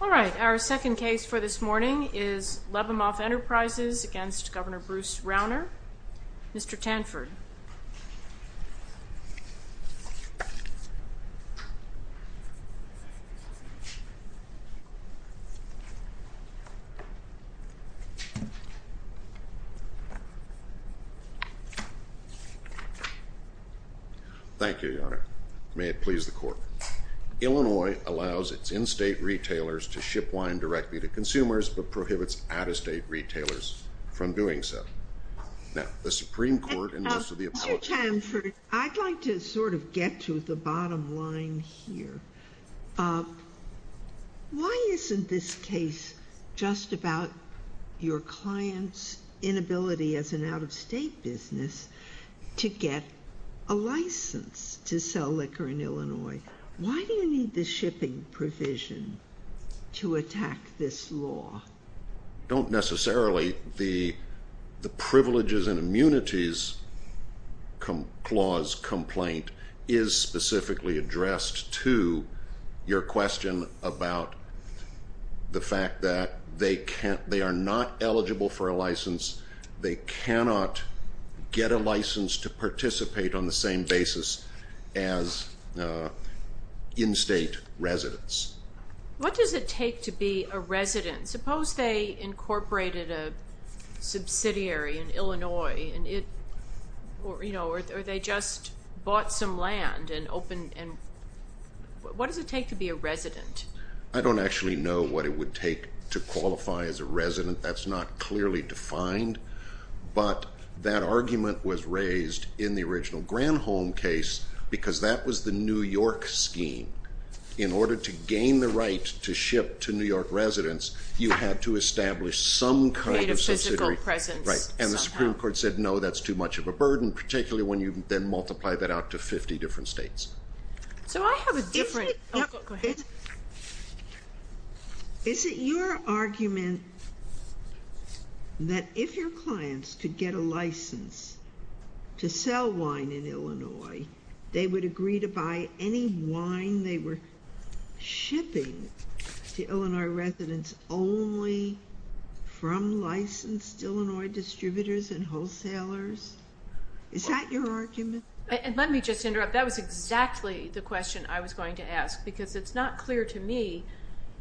Our second case for this morning is Labamoff Enterprises v. Gov. Bruce Rauner. Mr. Tanford. Thank you, Your Honor. May it please the Court. Illinois allows its in-state retailers to ship wine directly to consumers, but prohibits out-of-state retailers from doing so. Mr. Tanford, I'd like to sort of get to the bottom line here. Why isn't this case just about your client's inability as an out-of-state business to get a license to sell liquor in Illinois? Why do you need the shipping provision to attack this law? I don't necessarily, the Privileges and Immunities Clause complaint is specifically addressed to your question about the fact that they are not eligible for a license. They cannot get a license to participate on the same basis as in-state residents. What does it take to be a resident? Suppose they incorporated a subsidiary in Illinois, or they just bought some land and opened, what does it take to be a resident? I don't actually know what it would take to qualify as a resident. That's not clearly defined, but that argument was raised in the original Granholm case because that was the New York scheme. In order to gain the right to ship to New York residents, you had to establish some kind of subsidiary. And the Supreme Court said, no, that's too much of a burden, particularly when you then multiply that out to 50 different states. Is it your argument that if your clients could get a license to sell wine in Illinois, they would agree to buy any wine they were shipping to Illinois residents only from licensed Illinois distributors and wholesalers? Is that your argument? Let me just interrupt. That was exactly the question I was going to ask because it's not clear to me.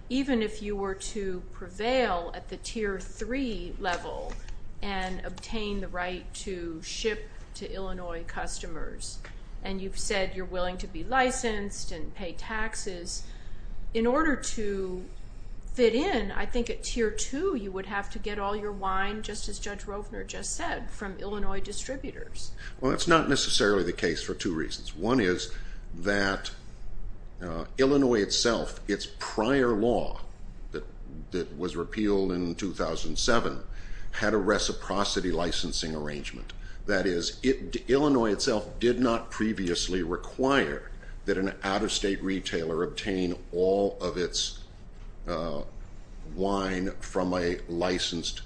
Even if you were to prevail at the Tier 3 level and obtain the right to ship to Illinois customers, and you've said you're willing to be licensed and pay taxes, in order to fit in, I think at Tier 2 you would have to get all your wine, just as Judge Rovner just said, from Illinois distributors. Well, that's not necessarily the case for two reasons. One is that Illinois itself, its prior law that was repealed in 2007, had a reciprocity licensing arrangement. That is, Illinois itself did not previously require that an out-of-state retailer obtain all of its wine from a licensed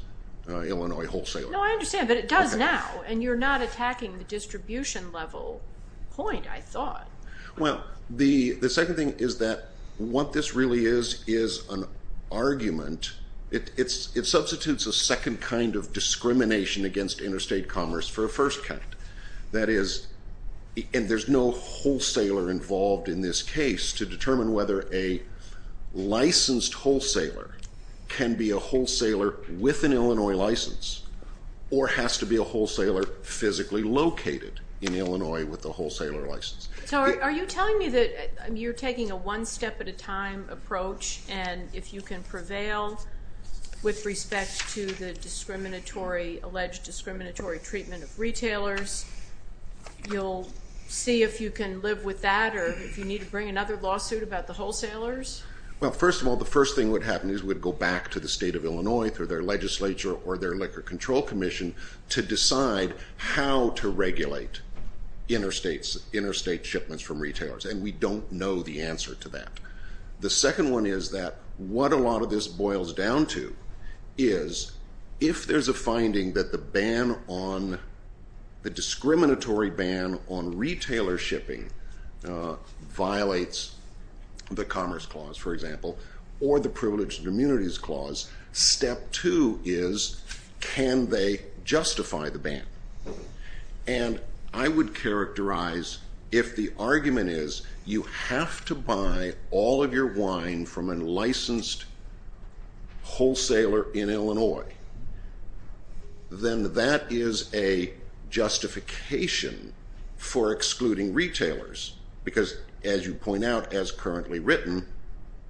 Illinois wholesaler. No, I understand, but it does now, and you're not attacking the distribution level point, I thought. Well, the second thing is that what this really is is an argument. It substitutes a second kind of discrimination against interstate commerce for a first kind. That is, and there's no wholesaler involved in this case to determine whether a licensed wholesaler can be a wholesaler with an Illinois license, or has to be a wholesaler physically located in Illinois with a wholesaler license. So are you telling me that you're taking a one-step-at-a-time approach, and if you can prevail with respect to the alleged discriminatory treatment of retailers, you'll see if you can live with that or if you need to bring another lawsuit about the wholesalers? Well, first of all, the first thing that would happen is we'd go back to the State of Illinois, through their legislature or their Liquor Control Commission, to decide how to regulate interstate shipments from retailers, and we don't know the answer to that. The second one is that what a lot of this boils down to is, if there's a finding that the discriminatory ban on retailer shipping violates the Commerce Clause, for example, or the Privileged Immunities Clause, step two is, can they justify the ban? And I would characterize, if the argument is you have to buy all of your wine from a licensed wholesaler in Illinois, then that is a justification for excluding retailers, because, as you point out, as currently written,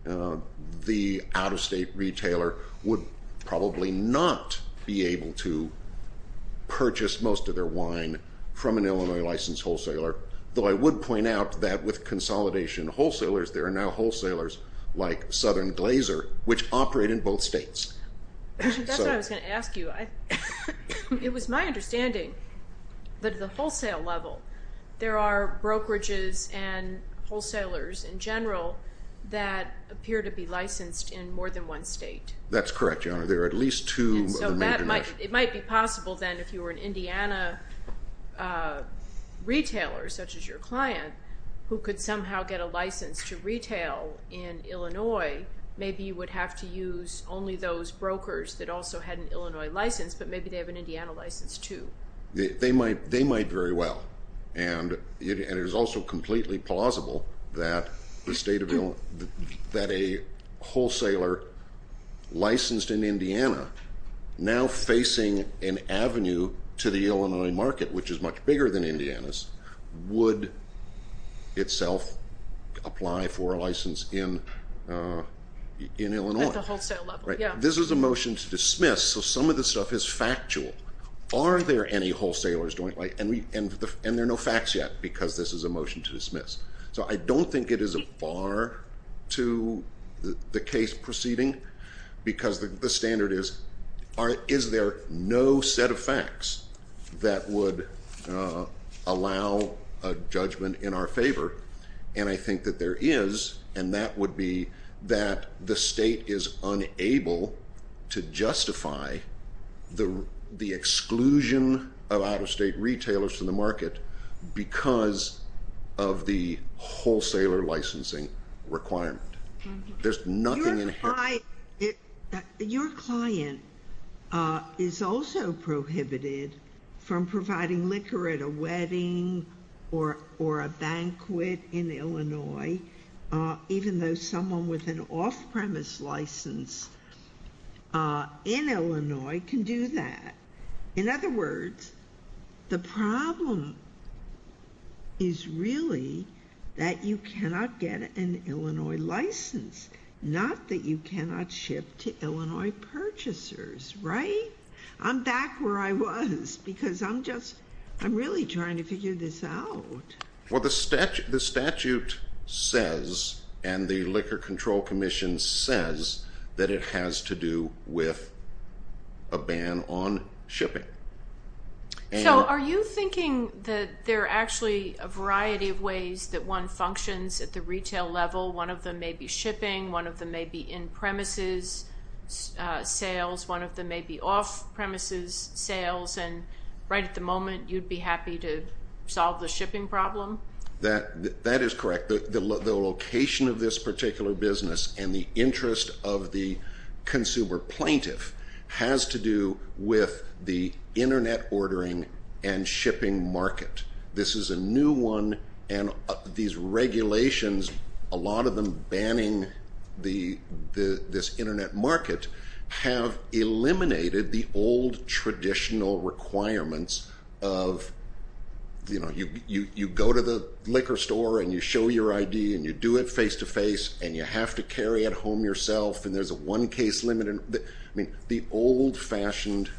the out-of-state retailer would probably not be able to purchase most of their wine from an Illinois licensed wholesaler, though I would point out that with consolidation wholesalers, there are now wholesalers like Southern Glazer, which operate in both states. That's what I was going to ask you. It was my understanding that at the wholesale level, there are brokerages and wholesalers in general that appear to be licensed in more than one state. That's correct, Your Honor. There are at least two of them in the United States. It might be possible, then, if you were an Indiana retailer, such as your client, who could somehow get a license to retail in Illinois, maybe you would have to use only those brokers that also had an Illinois license, but maybe they have an Indiana license, too. They might very well. And it is also completely plausible that a wholesaler licensed in Indiana, now facing an avenue to the Illinois market, which is much bigger than Indiana's, would itself apply for a license in Illinois. At the wholesale level, yeah. This is a motion to dismiss, so some of this stuff is factual. Are there any wholesalers, and there are no facts yet, because this is a motion to dismiss. So I don't think it is a bar to the case proceeding, because the standard is, is there no set of facts that would allow a judgment in our favor? And I think that there is, and that would be that the state is unable to justify the exclusion of out-of-state retailers from the market because of the wholesaler licensing requirement. There's nothing in here. Your client is also prohibited from providing liquor at a wedding or a banquet in Illinois, even though someone with an off-premise license in Illinois can do that. In other words, the problem is really that you cannot get an Illinois license, not that you cannot ship to Illinois purchasers, right? I'm back where I was, because I'm just, I'm really trying to figure this out. Well, the statute says, and the Liquor Control Commission says, that it has to do with a ban on shipping. So are you thinking that there are actually a variety of ways that one functions at the retail level? One of them may be shipping, one of them may be in-premises sales, one of them may be off-premises sales, and right at the moment you'd be happy to solve the shipping problem? That is correct. The location of this particular business and the interest of the consumer plaintiff has to do with the Internet ordering and shipping market. This is a new one, and these regulations, a lot of them banning this Internet market, have eliminated the old traditional requirements of, you know, you go to the liquor store, and you show your ID, and you do it face-to-face, and you have to carry it home yourself, and there's a one-case limit. I mean, the old-fashioned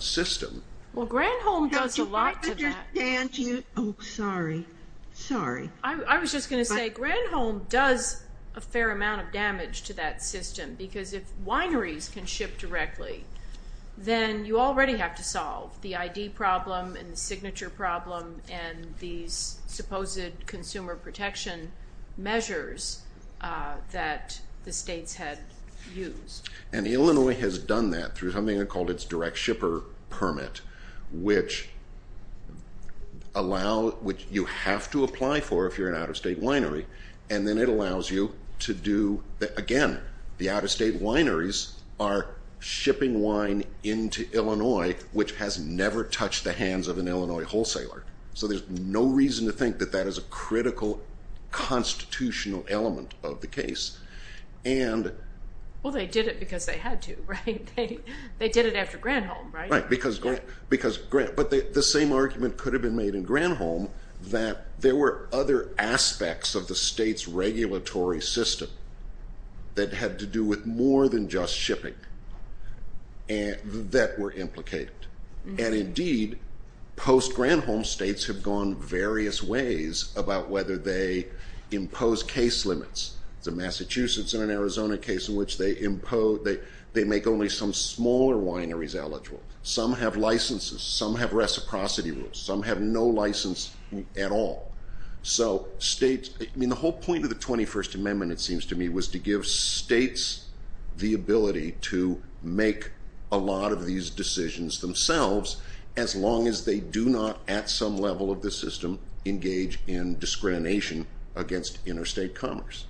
system. Well, Granholm does a lot to that. I don't understand you. Oh, sorry. Sorry. I was just going to say, Granholm does a fair amount of damage to that system, because if wineries can ship directly, then you already have to solve the ID problem and the signature problem and these supposed consumer protection measures that the states had used. And Illinois has done that through something called its direct shipper permit, which you have to apply for if you're an out-of-state winery, and then it allows you to do that again. The out-of-state wineries are shipping wine into Illinois, which has never touched the hands of an Illinois wholesaler. So there's no reason to think that that is a critical constitutional element of the case. Well, they did it because they had to, right? They did it after Granholm, right? Right, but the same argument could have been made in Granholm that there were other aspects of the state's regulatory system that had to do with more than just shipping that were implicated. And indeed, post-Granholm, states have gone various ways about whether they impose case limits. It's a Massachusetts and an Arizona case in which they make only some smaller wineries eligible. Some have licenses, some have reciprocity rules, some have no license at all. So the whole point of the 21st Amendment, it seems to me, was to give states the ability to make a lot of these decisions themselves as long as they do not, at some level of the system, engage in discrimination against interstate commerce.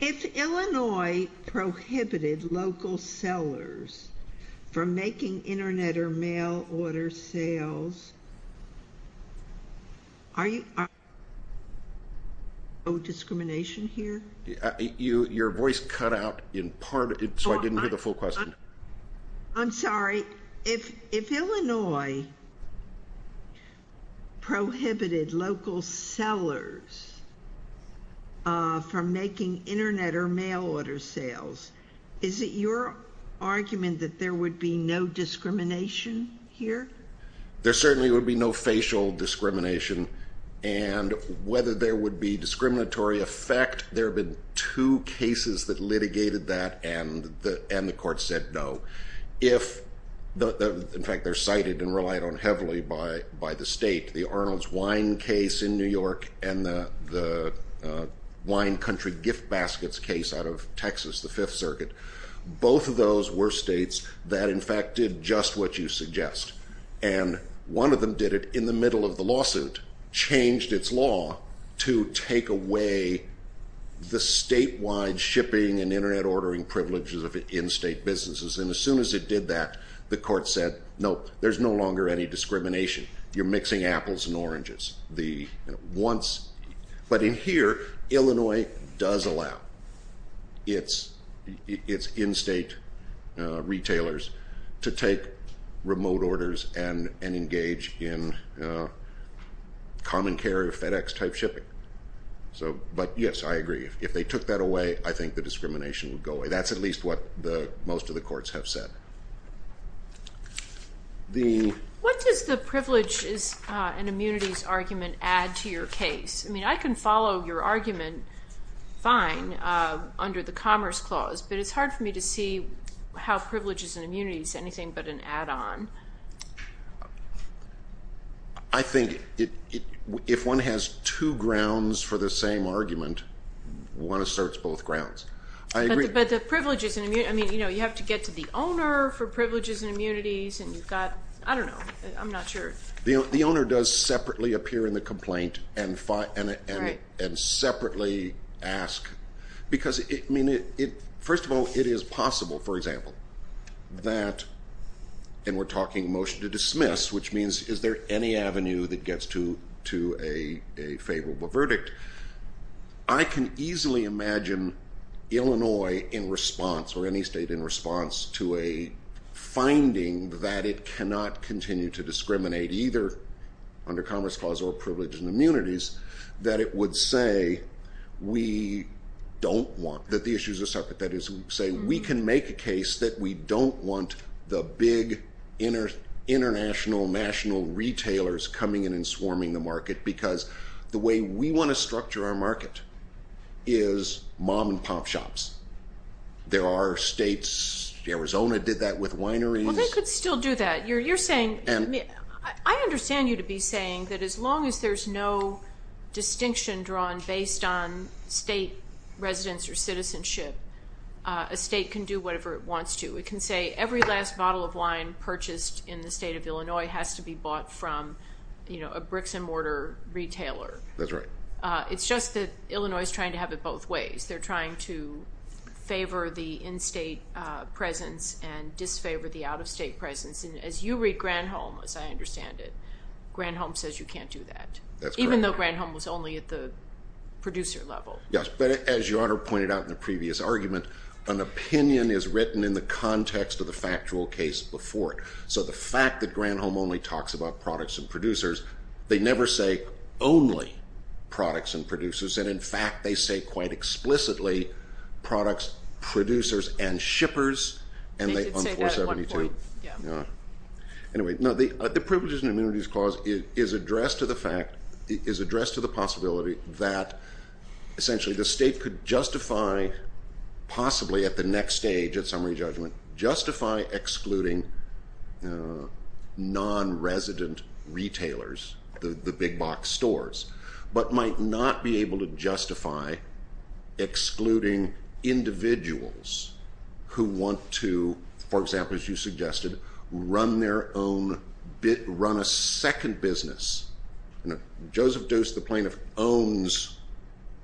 If Illinois prohibited local sellers from making Internet or mail order sales, are you... no discrimination here? Your voice cut out in part, so I didn't hear the full question. I'm sorry. If Illinois prohibited local sellers from making Internet or mail order sales, is it your argument that there would be no discrimination here? There certainly would be no facial discrimination. And whether there would be discriminatory effect, there have been two cases that litigated that and the court said no. In fact, they're cited and relied on heavily by the state, the Arnold's Wine case in New York and the Wine Country Gift Baskets case out of Texas, the Fifth Circuit. Both of those were states that, in fact, did just what you suggest. And one of them did it in the middle of the lawsuit, changed its law to take away the statewide shipping and Internet ordering privileges of in-state businesses. And as soon as it did that, the court said, no, there's no longer any discrimination. You're mixing apples and oranges. But in here, Illinois does allow its in-state retailers to take remote orders and engage in common carrier FedEx-type shipping. But yes, I agree. If they took that away, I think the discrimination would go away. That's at least what most of the courts have said. What does the privileges and immunities argument add to your case? I mean, I can follow your argument fine under the Commerce Clause, but it's hard for me to see how privileges and immunities are anything but an add-on. I think if one has two grounds for the same argument, one asserts both grounds. I agree. But the privileges and immunities, I mean, you have to get to the owner for privileges and immunities, and you've got, I don't know. I'm not sure. The owner does separately appear in the complaint and separately ask. Because, I mean, first of all, it is possible, for example, that, and we're talking motion to dismiss, which means is there any avenue that gets to a favorable verdict, I can easily imagine Illinois in response or any state in response to a finding that it cannot continue to discriminate either under Commerce Clause or privileges and immunities, that it would say we don't want, that the issues are separate. That is to say we can make a case that we don't want the big international national retailers coming in and swarming the market because the way we want to structure our market is mom-and-pop shops. There are states, Arizona did that with wineries. Well, they could still do that. You're saying, I understand you to be saying that as long as there's no distinction drawn based on state residence or citizenship, a state can do whatever it wants to. It can say every last bottle of wine purchased in the state of Illinois has to be bought from a bricks-and-mortar retailer. That's right. It's just that Illinois is trying to have it both ways. They're trying to favor the in-state presence and disfavor the out-of-state presence. And as you read Granholm, as I understand it, Granholm says you can't do that. That's correct. Even though Granholm was only at the producer level. Yes, but as your Honor pointed out in the previous argument, an opinion is written in the context of the factual case before it. So the fact that Granholm only talks about products and producers, they never say only products and producers. And, in fact, they say quite explicitly products, producers, and shippers. They did say that at one point. Anyway, the Privileges and Immunities Clause is addressed to the possibility that essentially the state could justify possibly at the next stage, at summary judgment, justify excluding non-resident retailers, the big box stores, but might not be able to justify excluding individuals who want to, for example, as you suggested, run their own, run a second business. Joseph Dost, the plaintiff, owns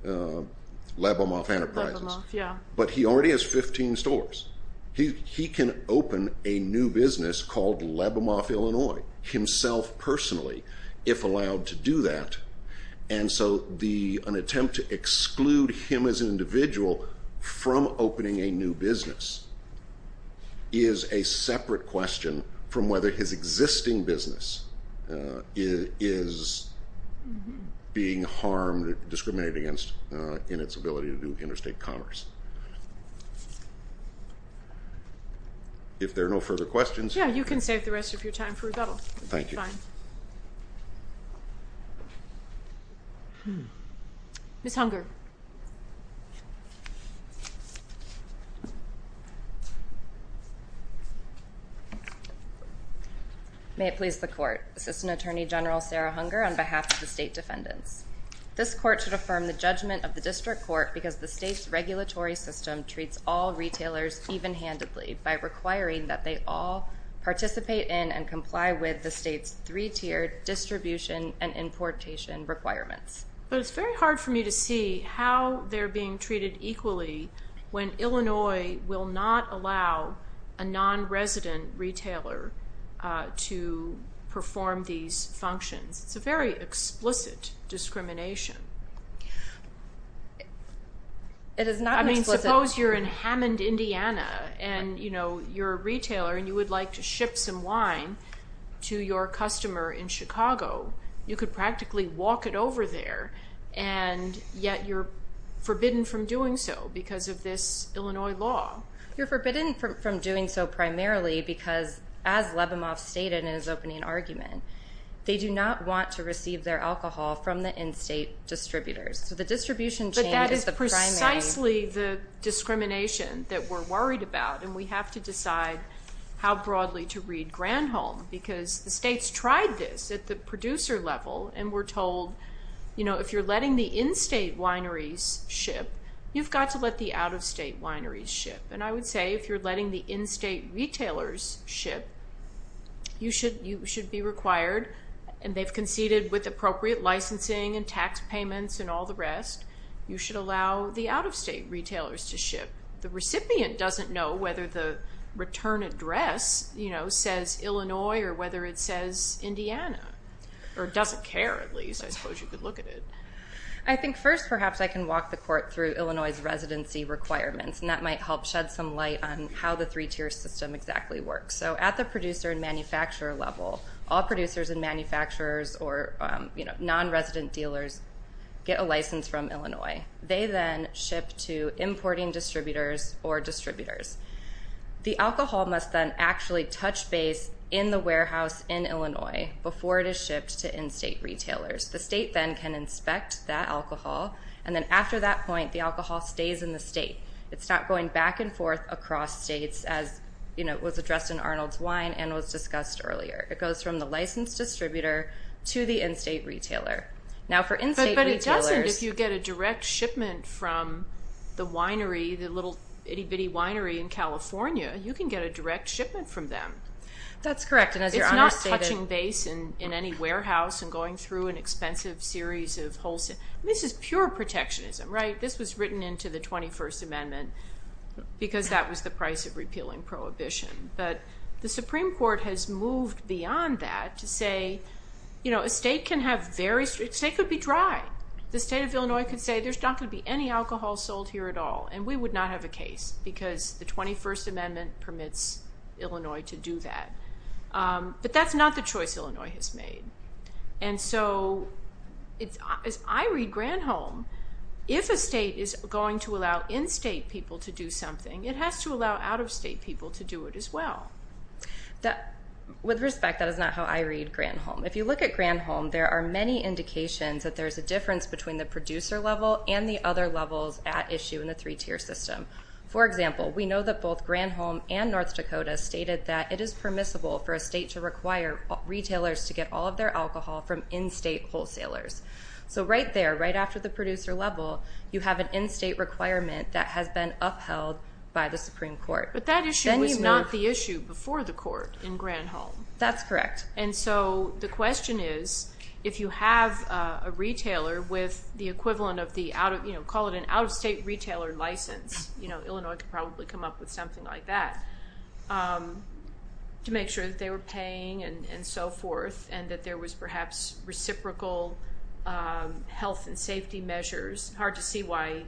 Lebomoff Enterprises. Lebomoff, yeah. But he already has 15 stores. He can open a new business called Lebomoff, Illinois, himself personally, if allowed to do that. And so an attempt to exclude him as an individual from opening a new business is a separate question from whether his existing business is being harmed or discriminated against in its ability to do interstate commerce. If there are no further questions. Yeah, you can save the rest of your time for rebuttal. Thank you. That's fine. Ms. Hunger. May it please the Court. Assistant Attorney General Sarah Hunger on behalf of the state defendants. This court should affirm the judgment of the district court because the state's regulatory system treats all retailers even-handedly by requiring that they all participate in and comply with the state's three-tiered distribution and importation requirements. But it's very hard for me to see how they're being treated equally when Illinois will not allow a non-resident retailer to perform these functions. It's a very explicit discrimination. It is not explicit. Well, suppose you're in Hammond, Indiana, and you're a retailer and you would like to ship some wine to your customer in Chicago. You could practically walk it over there, and yet you're forbidden from doing so because of this Illinois law. You're forbidden from doing so primarily because, as Levimoff stated in his opening argument, they do not want to receive their alcohol from the in-state distributors. So the distribution chain is the primary. It's precisely the discrimination that we're worried about, and we have to decide how broadly to read Granholm because the state's tried this at the producer level and we're told if you're letting the in-state wineries ship, you've got to let the out-of-state wineries ship. And I would say if you're letting the in-state retailers ship, you should be required, and they've conceded with appropriate licensing and tax payments and all the rest, you should allow the out-of-state retailers to ship. The recipient doesn't know whether the return address says Illinois or whether it says Indiana, or doesn't care at least. I suppose you could look at it. I think first perhaps I can walk the court through Illinois' residency requirements, and that might help shed some light on how the three-tier system exactly works. So at the producer and manufacturer level, all producers and manufacturers or non-resident dealers get a license from Illinois. They then ship to importing distributors or distributors. The alcohol must then actually touch base in the warehouse in Illinois before it is shipped to in-state retailers. The state then can inspect that alcohol, and then after that point the alcohol stays in the state. It's not going back and forth across states, as was addressed in Arnold's Wine and was discussed earlier. It goes from the licensed distributor to the in-state retailer. Now for in-state retailers- But it doesn't if you get a direct shipment from the winery, the little itty-bitty winery in California. You can get a direct shipment from them. That's correct, and as your Honor stated- It's not touching base in any warehouse and going through an expensive series of wholesale. This is pure protectionism, right? This was written into the 21st Amendment because that was the price of repealing prohibition. But the Supreme Court has moved beyond that to say a state can have very strict- A state could be dry. The state of Illinois could say there's not going to be any alcohol sold here at all, and we would not have a case because the 21st Amendment permits Illinois to do that. But that's not the choice Illinois has made. And so as I read Granholm, if a state is going to allow in-state people to do something, it has to allow out-of-state people to do it as well. With respect, that is not how I read Granholm. If you look at Granholm, there are many indications that there's a difference between the producer level and the other levels at issue in the three-tier system. For example, we know that both Granholm and North Dakota stated that it is permissible for a state to require retailers to get all of their alcohol from in-state wholesalers. So right there, right after the producer level, you have an in-state requirement that has been upheld by the Supreme Court. But that issue was not the issue before the court in Granholm. That's correct. And so the question is, if you have a retailer with the equivalent of the, call it an out-of-state retailer license, Illinois could probably come up with something like that, to make sure that they were paying and so forth and that there was perhaps reciprocal health and safety measures. Hard to see why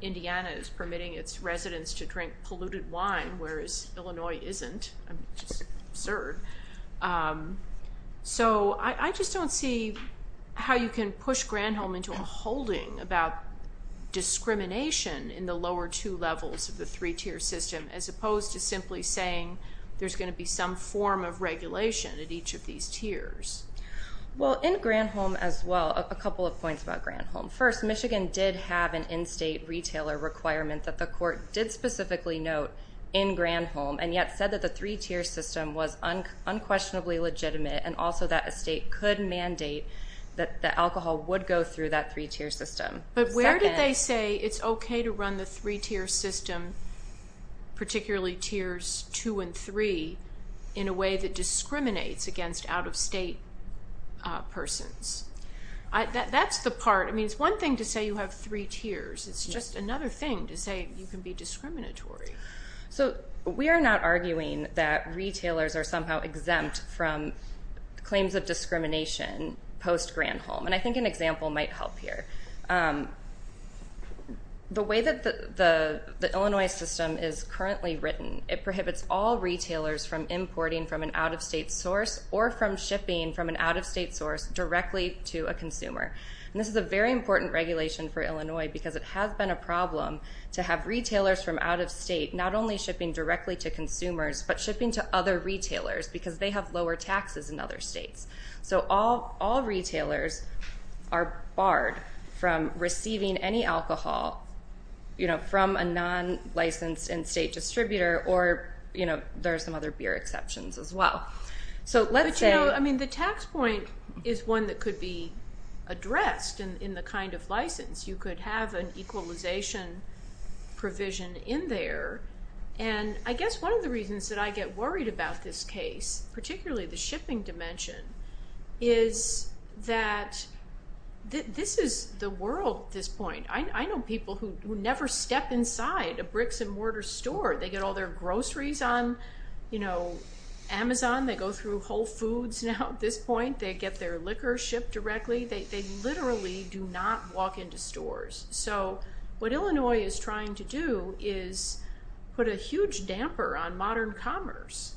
Indiana is permitting its residents to drink polluted wine, whereas Illinois isn't. I mean, it's just absurd. So I just don't see how you can push Granholm into a holding about discrimination in the lower two levels of the three-tier system, as opposed to simply saying there's going to be some form of regulation at each of these tiers. Well, in Granholm as well, a couple of points about Granholm. First, Michigan did have an in-state retailer requirement that the court did specifically note in Granholm and yet said that the three-tier system was unquestionably legitimate and also that a state could mandate that the alcohol would go through that three-tier system. But where did they say it's okay to run the three-tier system, particularly tiers two and three, in a way that discriminates against out-of-state persons? That's the part. I mean, it's one thing to say you have three tiers. It's just another thing to say you can be discriminatory. So we are not arguing that retailers are somehow exempt from claims of discrimination post-Granholm, and I think an example might help here. The way that the Illinois system is currently written, it prohibits all retailers from importing from an out-of-state source or from shipping from an out-of-state source directly to a consumer. And this is a very important regulation for Illinois because it has been a problem to have retailers from out-of-state not only shipping directly to consumers but shipping to other retailers because they have lower taxes in other states. So all retailers are barred from receiving any alcohol from a non-licensed in-state distributor or there are some other beer exceptions as well. But, you know, I mean the tax point is one that could be addressed in the kind of license. You could have an equalization provision in there, and I guess one of the reasons that I get worried about this case, particularly the shipping dimension, is that this is the world at this point. I know people who never step inside a bricks-and-mortar store. They get all their groceries on, you know, Amazon. They go through Whole Foods now at this point. They get their liquor shipped directly. They literally do not walk into stores. So what Illinois is trying to do is put a huge damper on modern commerce.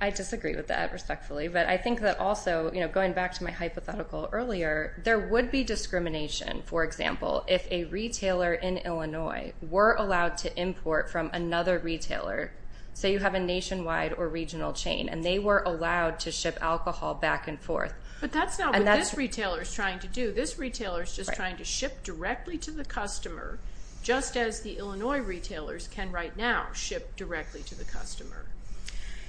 I disagree with that respectfully, but I think that also, you know, going back to my hypothetical earlier, there would be discrimination, for example, if a retailer in Illinois were allowed to import from another retailer. Say you have a nationwide or regional chain, and they were allowed to ship alcohol back and forth. But that's not what this retailer is trying to do. This retailer is just trying to ship directly to the customer, just as the Illinois retailers can right now ship directly to the customer.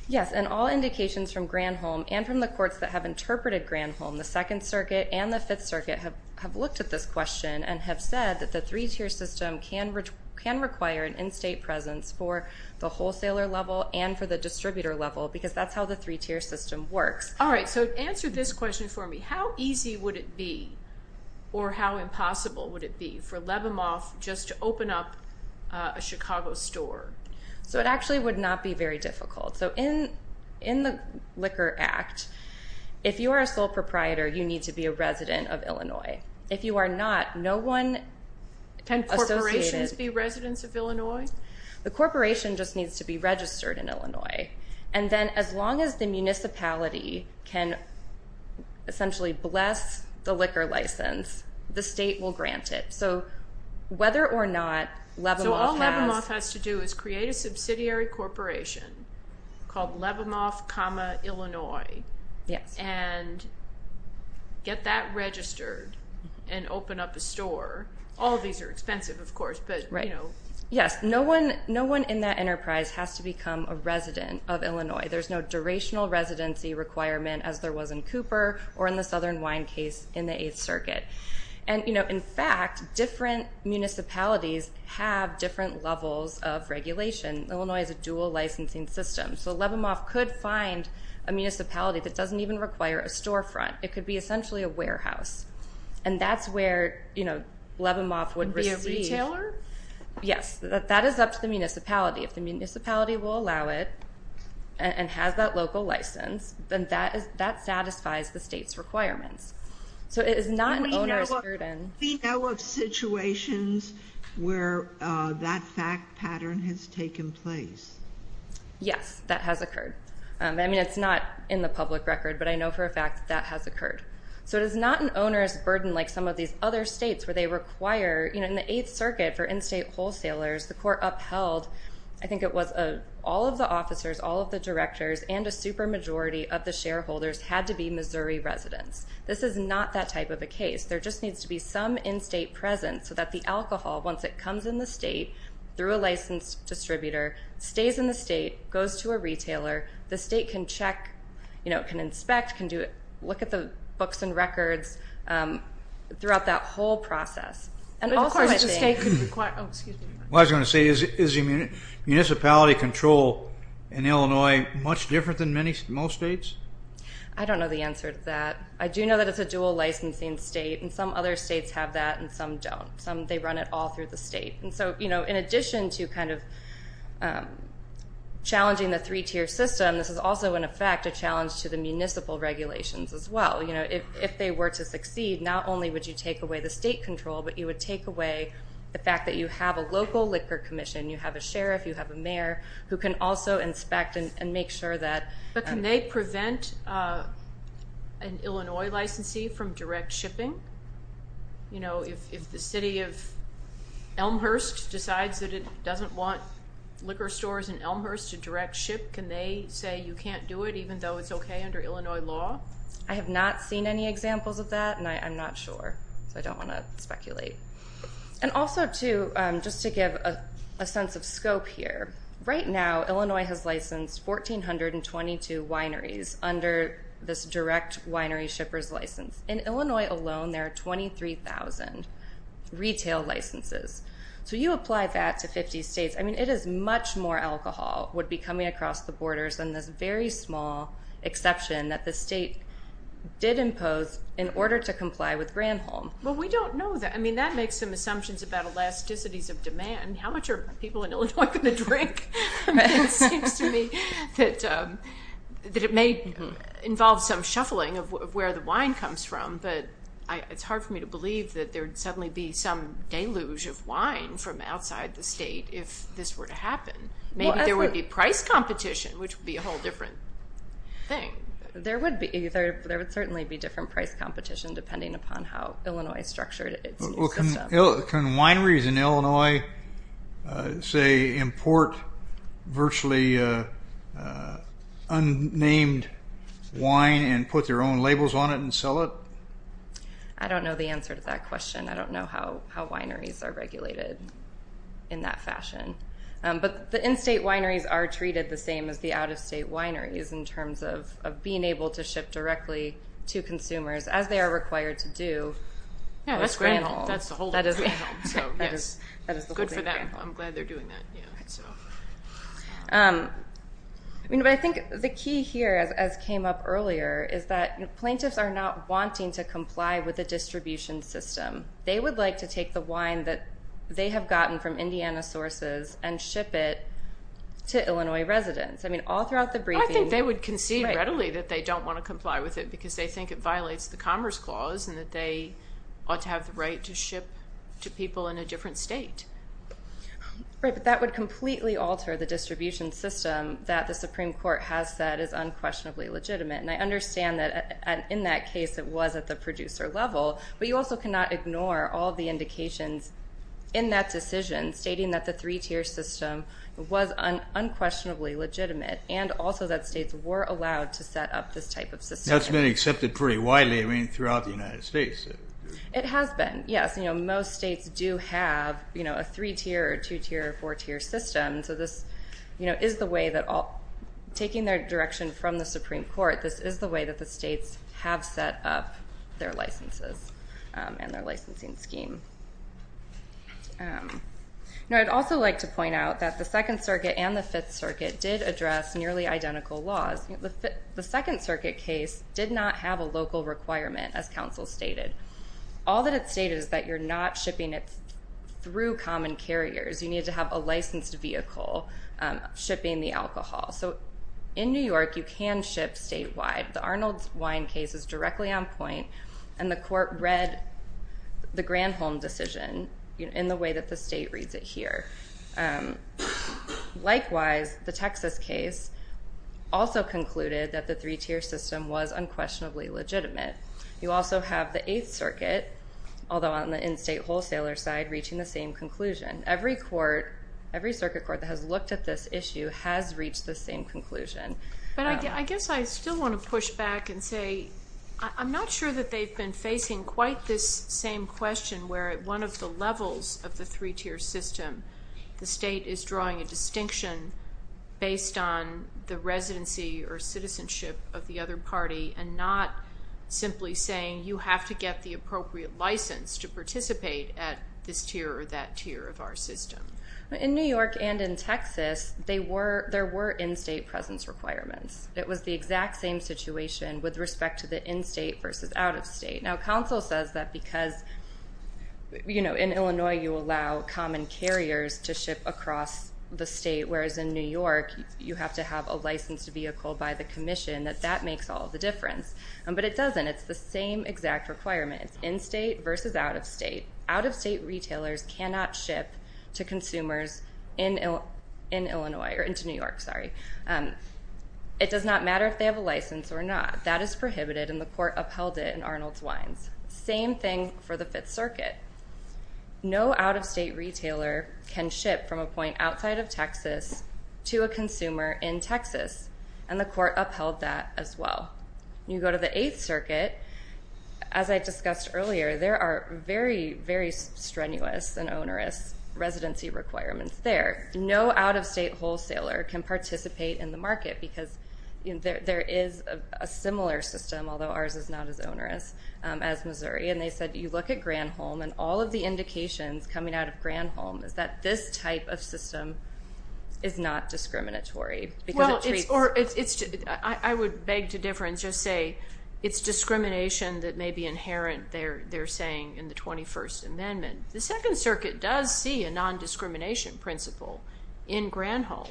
Yes, and all indications from Granholm and from the courts that have interpreted Granholm, the Second Circuit and the Fifth Circuit, have looked at this question and have said that the three-tier system can require an in-state presence for the wholesaler level and for the distributor level because that's how the three-tier system works. All right, so answer this question for me. How easy would it be or how impossible would it be for Lebemoff just to open up a Chicago store? So it actually would not be very difficult. So in the Liquor Act, if you are a sole proprietor, you need to be a resident of Illinois. If you are not, no one associated... Can corporations be residents of Illinois? The corporation just needs to be registered in Illinois. And then as long as the municipality can essentially bless the liquor license, the state will grant it. So whether or not Lebemoff has... So all Lebemoff has to do is create a subsidiary corporation called Lebemoff, Illinois. Yes. And get that registered and open up a store. All of these are expensive, of course, but, you know... Yes, no one in that enterprise has to become a resident of Illinois. There's no durational residency requirement as there was in Cooper or in the Southern Wine case in the Eighth Circuit. And, you know, in fact, different municipalities have different levels of regulation. Illinois is a dual licensing system. So Lebemoff could find a municipality that doesn't even require a storefront. It could be essentially a warehouse. And that's where, you know, Lebemoff would receive... Be a retailer? Yes. That is up to the municipality. If the municipality will allow it and has that local license, then that satisfies the state's requirements. So it is not an owner's burden. We know of situations where that fact pattern has taken place. Yes, that has occurred. I mean, it's not in the public record, but I know for a fact that that has occurred. So it is not an owner's burden like some of these other states where they require, you know, in the Eighth Circuit for in-state wholesalers, the court upheld, I think it was all of the officers, all of the directors, and a super majority of the shareholders had to be Missouri residents. This is not that type of a case. There just needs to be some in-state presence so that the alcohol, once it comes in the state through a licensed distributor, stays in the state, goes to a retailer, the state can check, you know, can inspect, can look at the books and records throughout that whole process. And also I think... But of course the state could require... Oh, excuse me. What I was going to say, is municipality control in Illinois much different than most states? I don't know the answer to that. I do know that it's a dual licensing state, and some other states have that and some don't. Some, they run it all through the state. And so, you know, in addition to kind of challenging the three-tier system, this is also, in effect, a challenge to the municipal regulations as well. You know, if they were to succeed, not only would you take away the state control, but you would take away the fact that you have a local liquor commission, you have a sheriff, you have a mayor who can also inspect and make sure that... But can they prevent an Illinois licensee from direct shipping? You know, if the city of Elmhurst decides that it doesn't want liquor stores in Elmhurst to direct ship, can they say you can't do it, even though it's okay under Illinois law? I have not seen any examples of that, and I'm not sure. So I don't want to speculate. And also, too, just to give a sense of scope here, right now Illinois has licensed 1,422 wineries under this direct winery shippers license. In Illinois alone, there are 23,000 retail licenses. So you apply that to 50 states. I mean, it is much more alcohol would be coming across the borders than this very small exception that the state did impose in order to comply with Granholm. Well, we don't know that. I mean, that makes some assumptions about elasticities of demand. How much are people in Illinois going to drink? It seems to me that it may involve some shuffling of where the wine comes from, but it's hard for me to believe that there would suddenly be some deluge of wine from outside the state if this were to happen. Maybe there would be price competition, which would be a whole different thing. There would be. There would certainly be different price competition depending upon how Illinois structured its new system. Can wineries in Illinois, say, import virtually unnamed wine and put their own labels on it and sell it? I don't know the answer to that question. I don't know how wineries are regulated in that fashion. But the in-state wineries are treated the same as the out-of-state wineries in terms of being able to ship directly to consumers as they are required to do. That's great. That's the whole thing. Good for them. I'm glad they're doing that. I think the key here, as came up earlier, is that plaintiffs are not wanting to comply with the distribution system. They would like to take the wine that they have gotten from Indiana sources and ship it to Illinois residents. I mean, all throughout the briefing. I think they would concede readily that they don't want to comply with it because they think it violates the Commerce Clause and that they ought to have the right to ship to people in a different state. Right, but that would completely alter the distribution system that the Supreme Court has said is unquestionably legitimate. And I understand that in that case it was at the producer level, but you also cannot ignore all the indications in that decision stating that the three-tier system was unquestionably legitimate and also that states were allowed to set up this type of system. That's been accepted pretty widely throughout the United States. It has been, yes. Most states do have a three-tier or two-tier or four-tier system, so this is the way that taking their direction from the Supreme Court, this is the way that the states have set up their licenses and their licensing scheme. I'd also like to point out that the Second Circuit and the Fifth Circuit did address nearly identical laws. The Second Circuit case did not have a local requirement, as counsel stated. All that it stated is that you're not shipping it through common carriers. You need to have a licensed vehicle shipping the alcohol. So in New York, you can ship statewide. The Arnold's Wine case is directly on point, and the court read the Granholm decision in the way that the state reads it here. Likewise, the Texas case also concluded that the three-tier system was unquestionably legitimate. You also have the Eighth Circuit, although on the in-state wholesaler side, reaching the same conclusion. Every circuit court that has looked at this issue has reached the same conclusion. But I guess I still want to push back and say I'm not sure that they've been facing quite this same question where at one of the levels of the three-tier system, the state is drawing a distinction based on the residency or citizenship of the other party and not simply saying you have to get the appropriate license to participate at this tier or that tier of our system. In New York and in Texas, there were in-state presence requirements. It was the exact same situation with respect to the in-state versus out-of-state. Now, counsel says that because, you know, in Illinois you allow common carriers to ship across the state, whereas in New York you have to have a licensed vehicle by the commission, that that makes all the difference. But it doesn't. It's the same exact requirement. It's in-state versus out-of-state. Out-of-state retailers cannot ship to consumers in New York. It does not matter if they have a license or not. That is prohibited, and the court upheld it in Arnold's Wines. Same thing for the Fifth Circuit. No out-of-state retailer can ship from a point outside of Texas to a consumer in Texas, and the court upheld that as well. When you go to the Eighth Circuit, as I discussed earlier, there are very, very strenuous and onerous residency requirements there. There is a similar system, although ours is not as onerous, as Missouri, and they said you look at Granholm and all of the indications coming out of Granholm is that this type of system is not discriminatory. I would beg to differ and just say it's discrimination that may be inherent, they're saying, in the 21st Amendment. The Second Circuit does see a nondiscrimination principle in Granholm,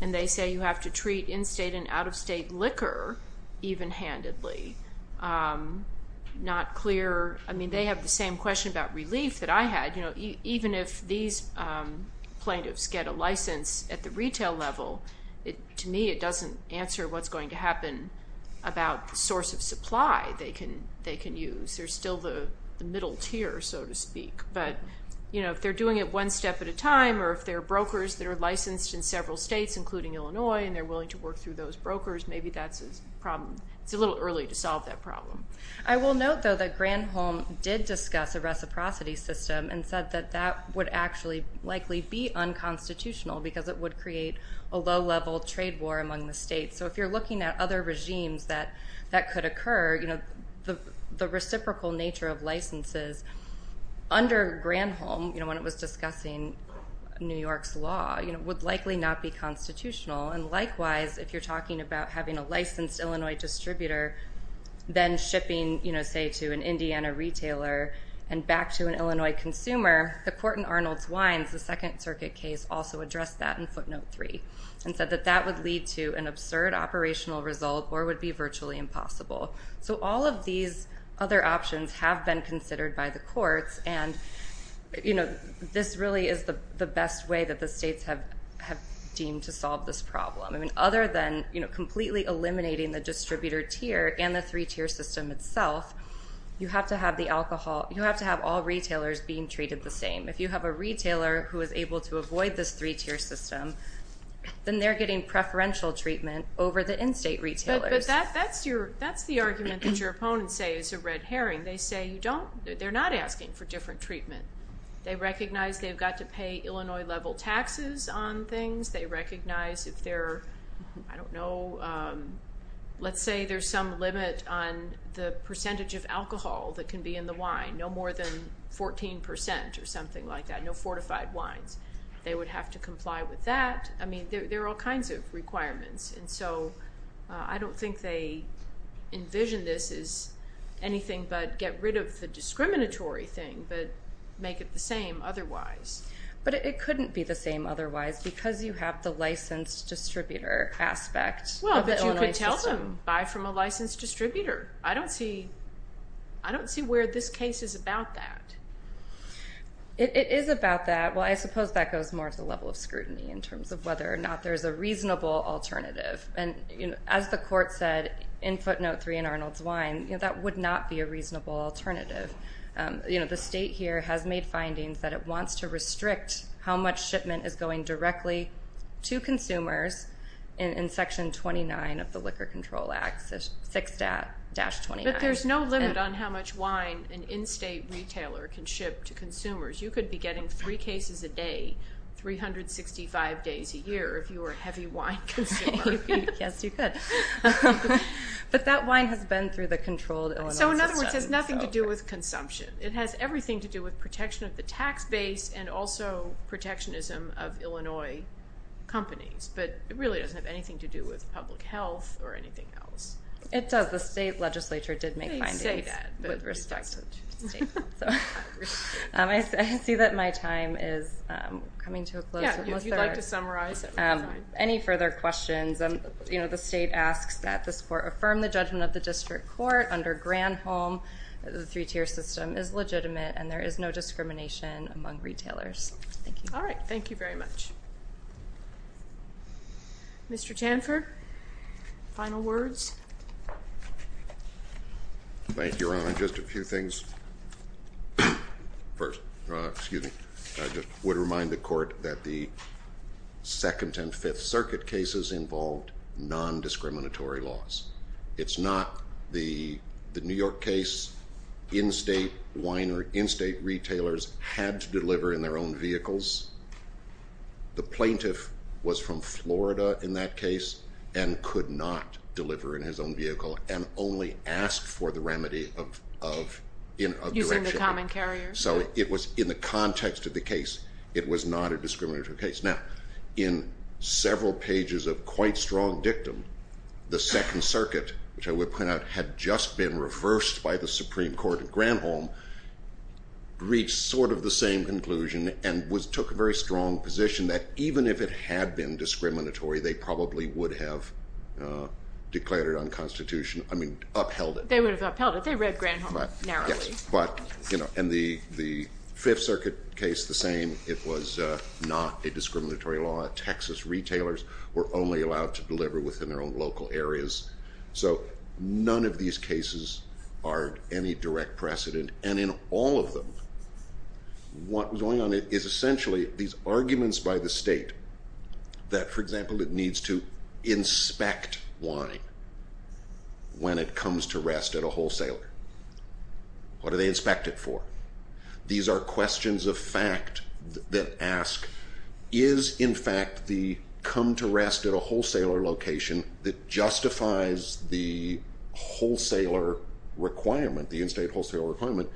and they say you have to treat in-state and out-of-state liquor even-handedly. Not clear. I mean, they have the same question about relief that I had. Even if these plaintiffs get a license at the retail level, to me it doesn't answer what's going to happen about the source of supply they can use. They're still the middle tier, so to speak. But if they're doing it one step at a time, or if they're brokers that are licensed in several states, including Illinois, and they're willing to work through those brokers, maybe that's a problem. It's a little early to solve that problem. I will note, though, that Granholm did discuss a reciprocity system and said that that would actually likely be unconstitutional because it would create a low-level trade war among the states. So if you're looking at other regimes that could occur, the reciprocal nature of licenses under Granholm, when it was discussing New York's law, would likely not be constitutional. And likewise, if you're talking about having a licensed Illinois distributor then shipping, say, to an Indiana retailer and back to an Illinois consumer, the court in Arnold's Wines, the Second Circuit case, also addressed that in footnote 3 and said that that would lead to an absurd operational result or would be virtually impossible. So all of these other options have been considered by the courts, and this really is the best way that the states have deemed to solve this problem. Other than completely eliminating the distributor tier and the three-tier system itself, you have to have all retailers being treated the same. If you have a retailer who is able to avoid this three-tier system, then they're getting preferential treatment over the in-state retailers. But that's the argument that your opponents say is a red herring. They say you don't. They're not asking for different treatment. They recognize they've got to pay Illinois-level taxes on things. They recognize if they're, I don't know, let's say there's some limit on the percentage of alcohol that can be in the wine, no more than 14 percent or something like that, no fortified wines. They would have to comply with that. I mean, there are all kinds of requirements. And so I don't think they envision this as anything but get rid of the discriminatory thing but make it the same otherwise. But it couldn't be the same otherwise because you have the licensed distributor aspect of the Illinois system. Well, but you could tell them, buy from a licensed distributor. I don't see where this case is about that. It is about that. Well, I suppose that goes more to the level of scrutiny in terms of whether or not there's a reasonable alternative. And as the court said in footnote 3 in Arnold's Wine, that would not be a reasonable alternative. The state here has made findings that it wants to restrict how much shipment is going directly to consumers in Section 29 of the Liquor Control Act, 6-29. But there's no limit on how much wine an in-state retailer can ship to consumers. You could be getting three cases a day, 365 days a year, if you were a heavy wine consumer. Yes, you could. But that wine has been through the controlled Illinois system. So in other words, it has nothing to do with consumption. It has everything to do with protection of the tax base and also protectionism of Illinois companies. But it really doesn't have anything to do with public health or anything else. It does. The state legislature did make findings with respect to state health. I see that my time is coming to a close. Yeah, if you'd like to summarize. Any further questions? You know, the state asks that this court affirm the judgment of the district court under Granholm that the three-tier system is legitimate and there is no discrimination among retailers. Thank you. All right, thank you very much. Mr. Tanfer, final words? Thank you, Your Honor. Just a few things. First, I just would remind the court that the Second and Fifth Circuit cases involved nondiscriminatory laws. It's not the New York case. In-state wine or in-state retailers had to deliver in their own vehicles. The plaintiff was from Florida in that case and could not deliver in his own vehicle and only asked for the remedy of direction. Using the common carrier. So in the context of the case, it was not a discriminatory case. Now, in several pages of quite strong dictum, the Second Circuit, which I would point out had just been reversed by the Supreme Court in Granholm, reached sort of the same conclusion and took a very strong position that even if it had been discriminatory, they probably would have upheld it. They would have upheld it. They read Granholm narrowly. Yes, but in the Fifth Circuit case, the same. It was not a discriminatory law. Texas retailers were only allowed to deliver within their own local areas. So none of these cases are any direct precedent. And in all of them, what was going on is essentially these arguments by the state that, for example, it needs to inspect wine when it comes to rest at a wholesaler. What do they inspect it for? These are questions of fact that ask, is, in fact, the come to rest at a wholesaler location that justifies the wholesaler requirement, the in-state wholesaler requirement?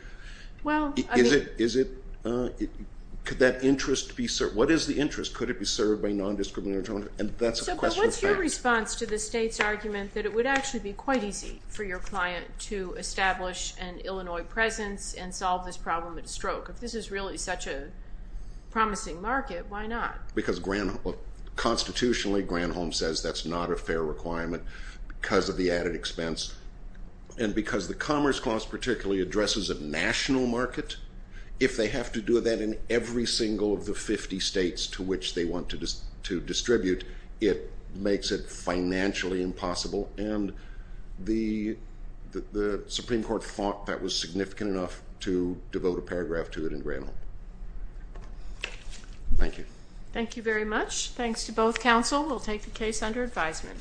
Could that interest be served? What is the interest? Could it be served by nondiscriminatory? And that's a question of fact. So what's your response to the state's argument that it would actually be quite easy for your client to establish an Illinois presence and solve this problem at a stroke? If this is really such a promising market, why not? Because constitutionally, Granholm says that's not a fair requirement because of the added expense. And because the Commerce Clause particularly addresses a national market, if they have to do that in every single of the 50 states to which they want to distribute, it makes it financially impossible. And the Supreme Court thought that was significant enough to devote a paragraph to it in Granholm. Thank you. Thank you very much. Thanks to both counsel. We'll take the case under advisement.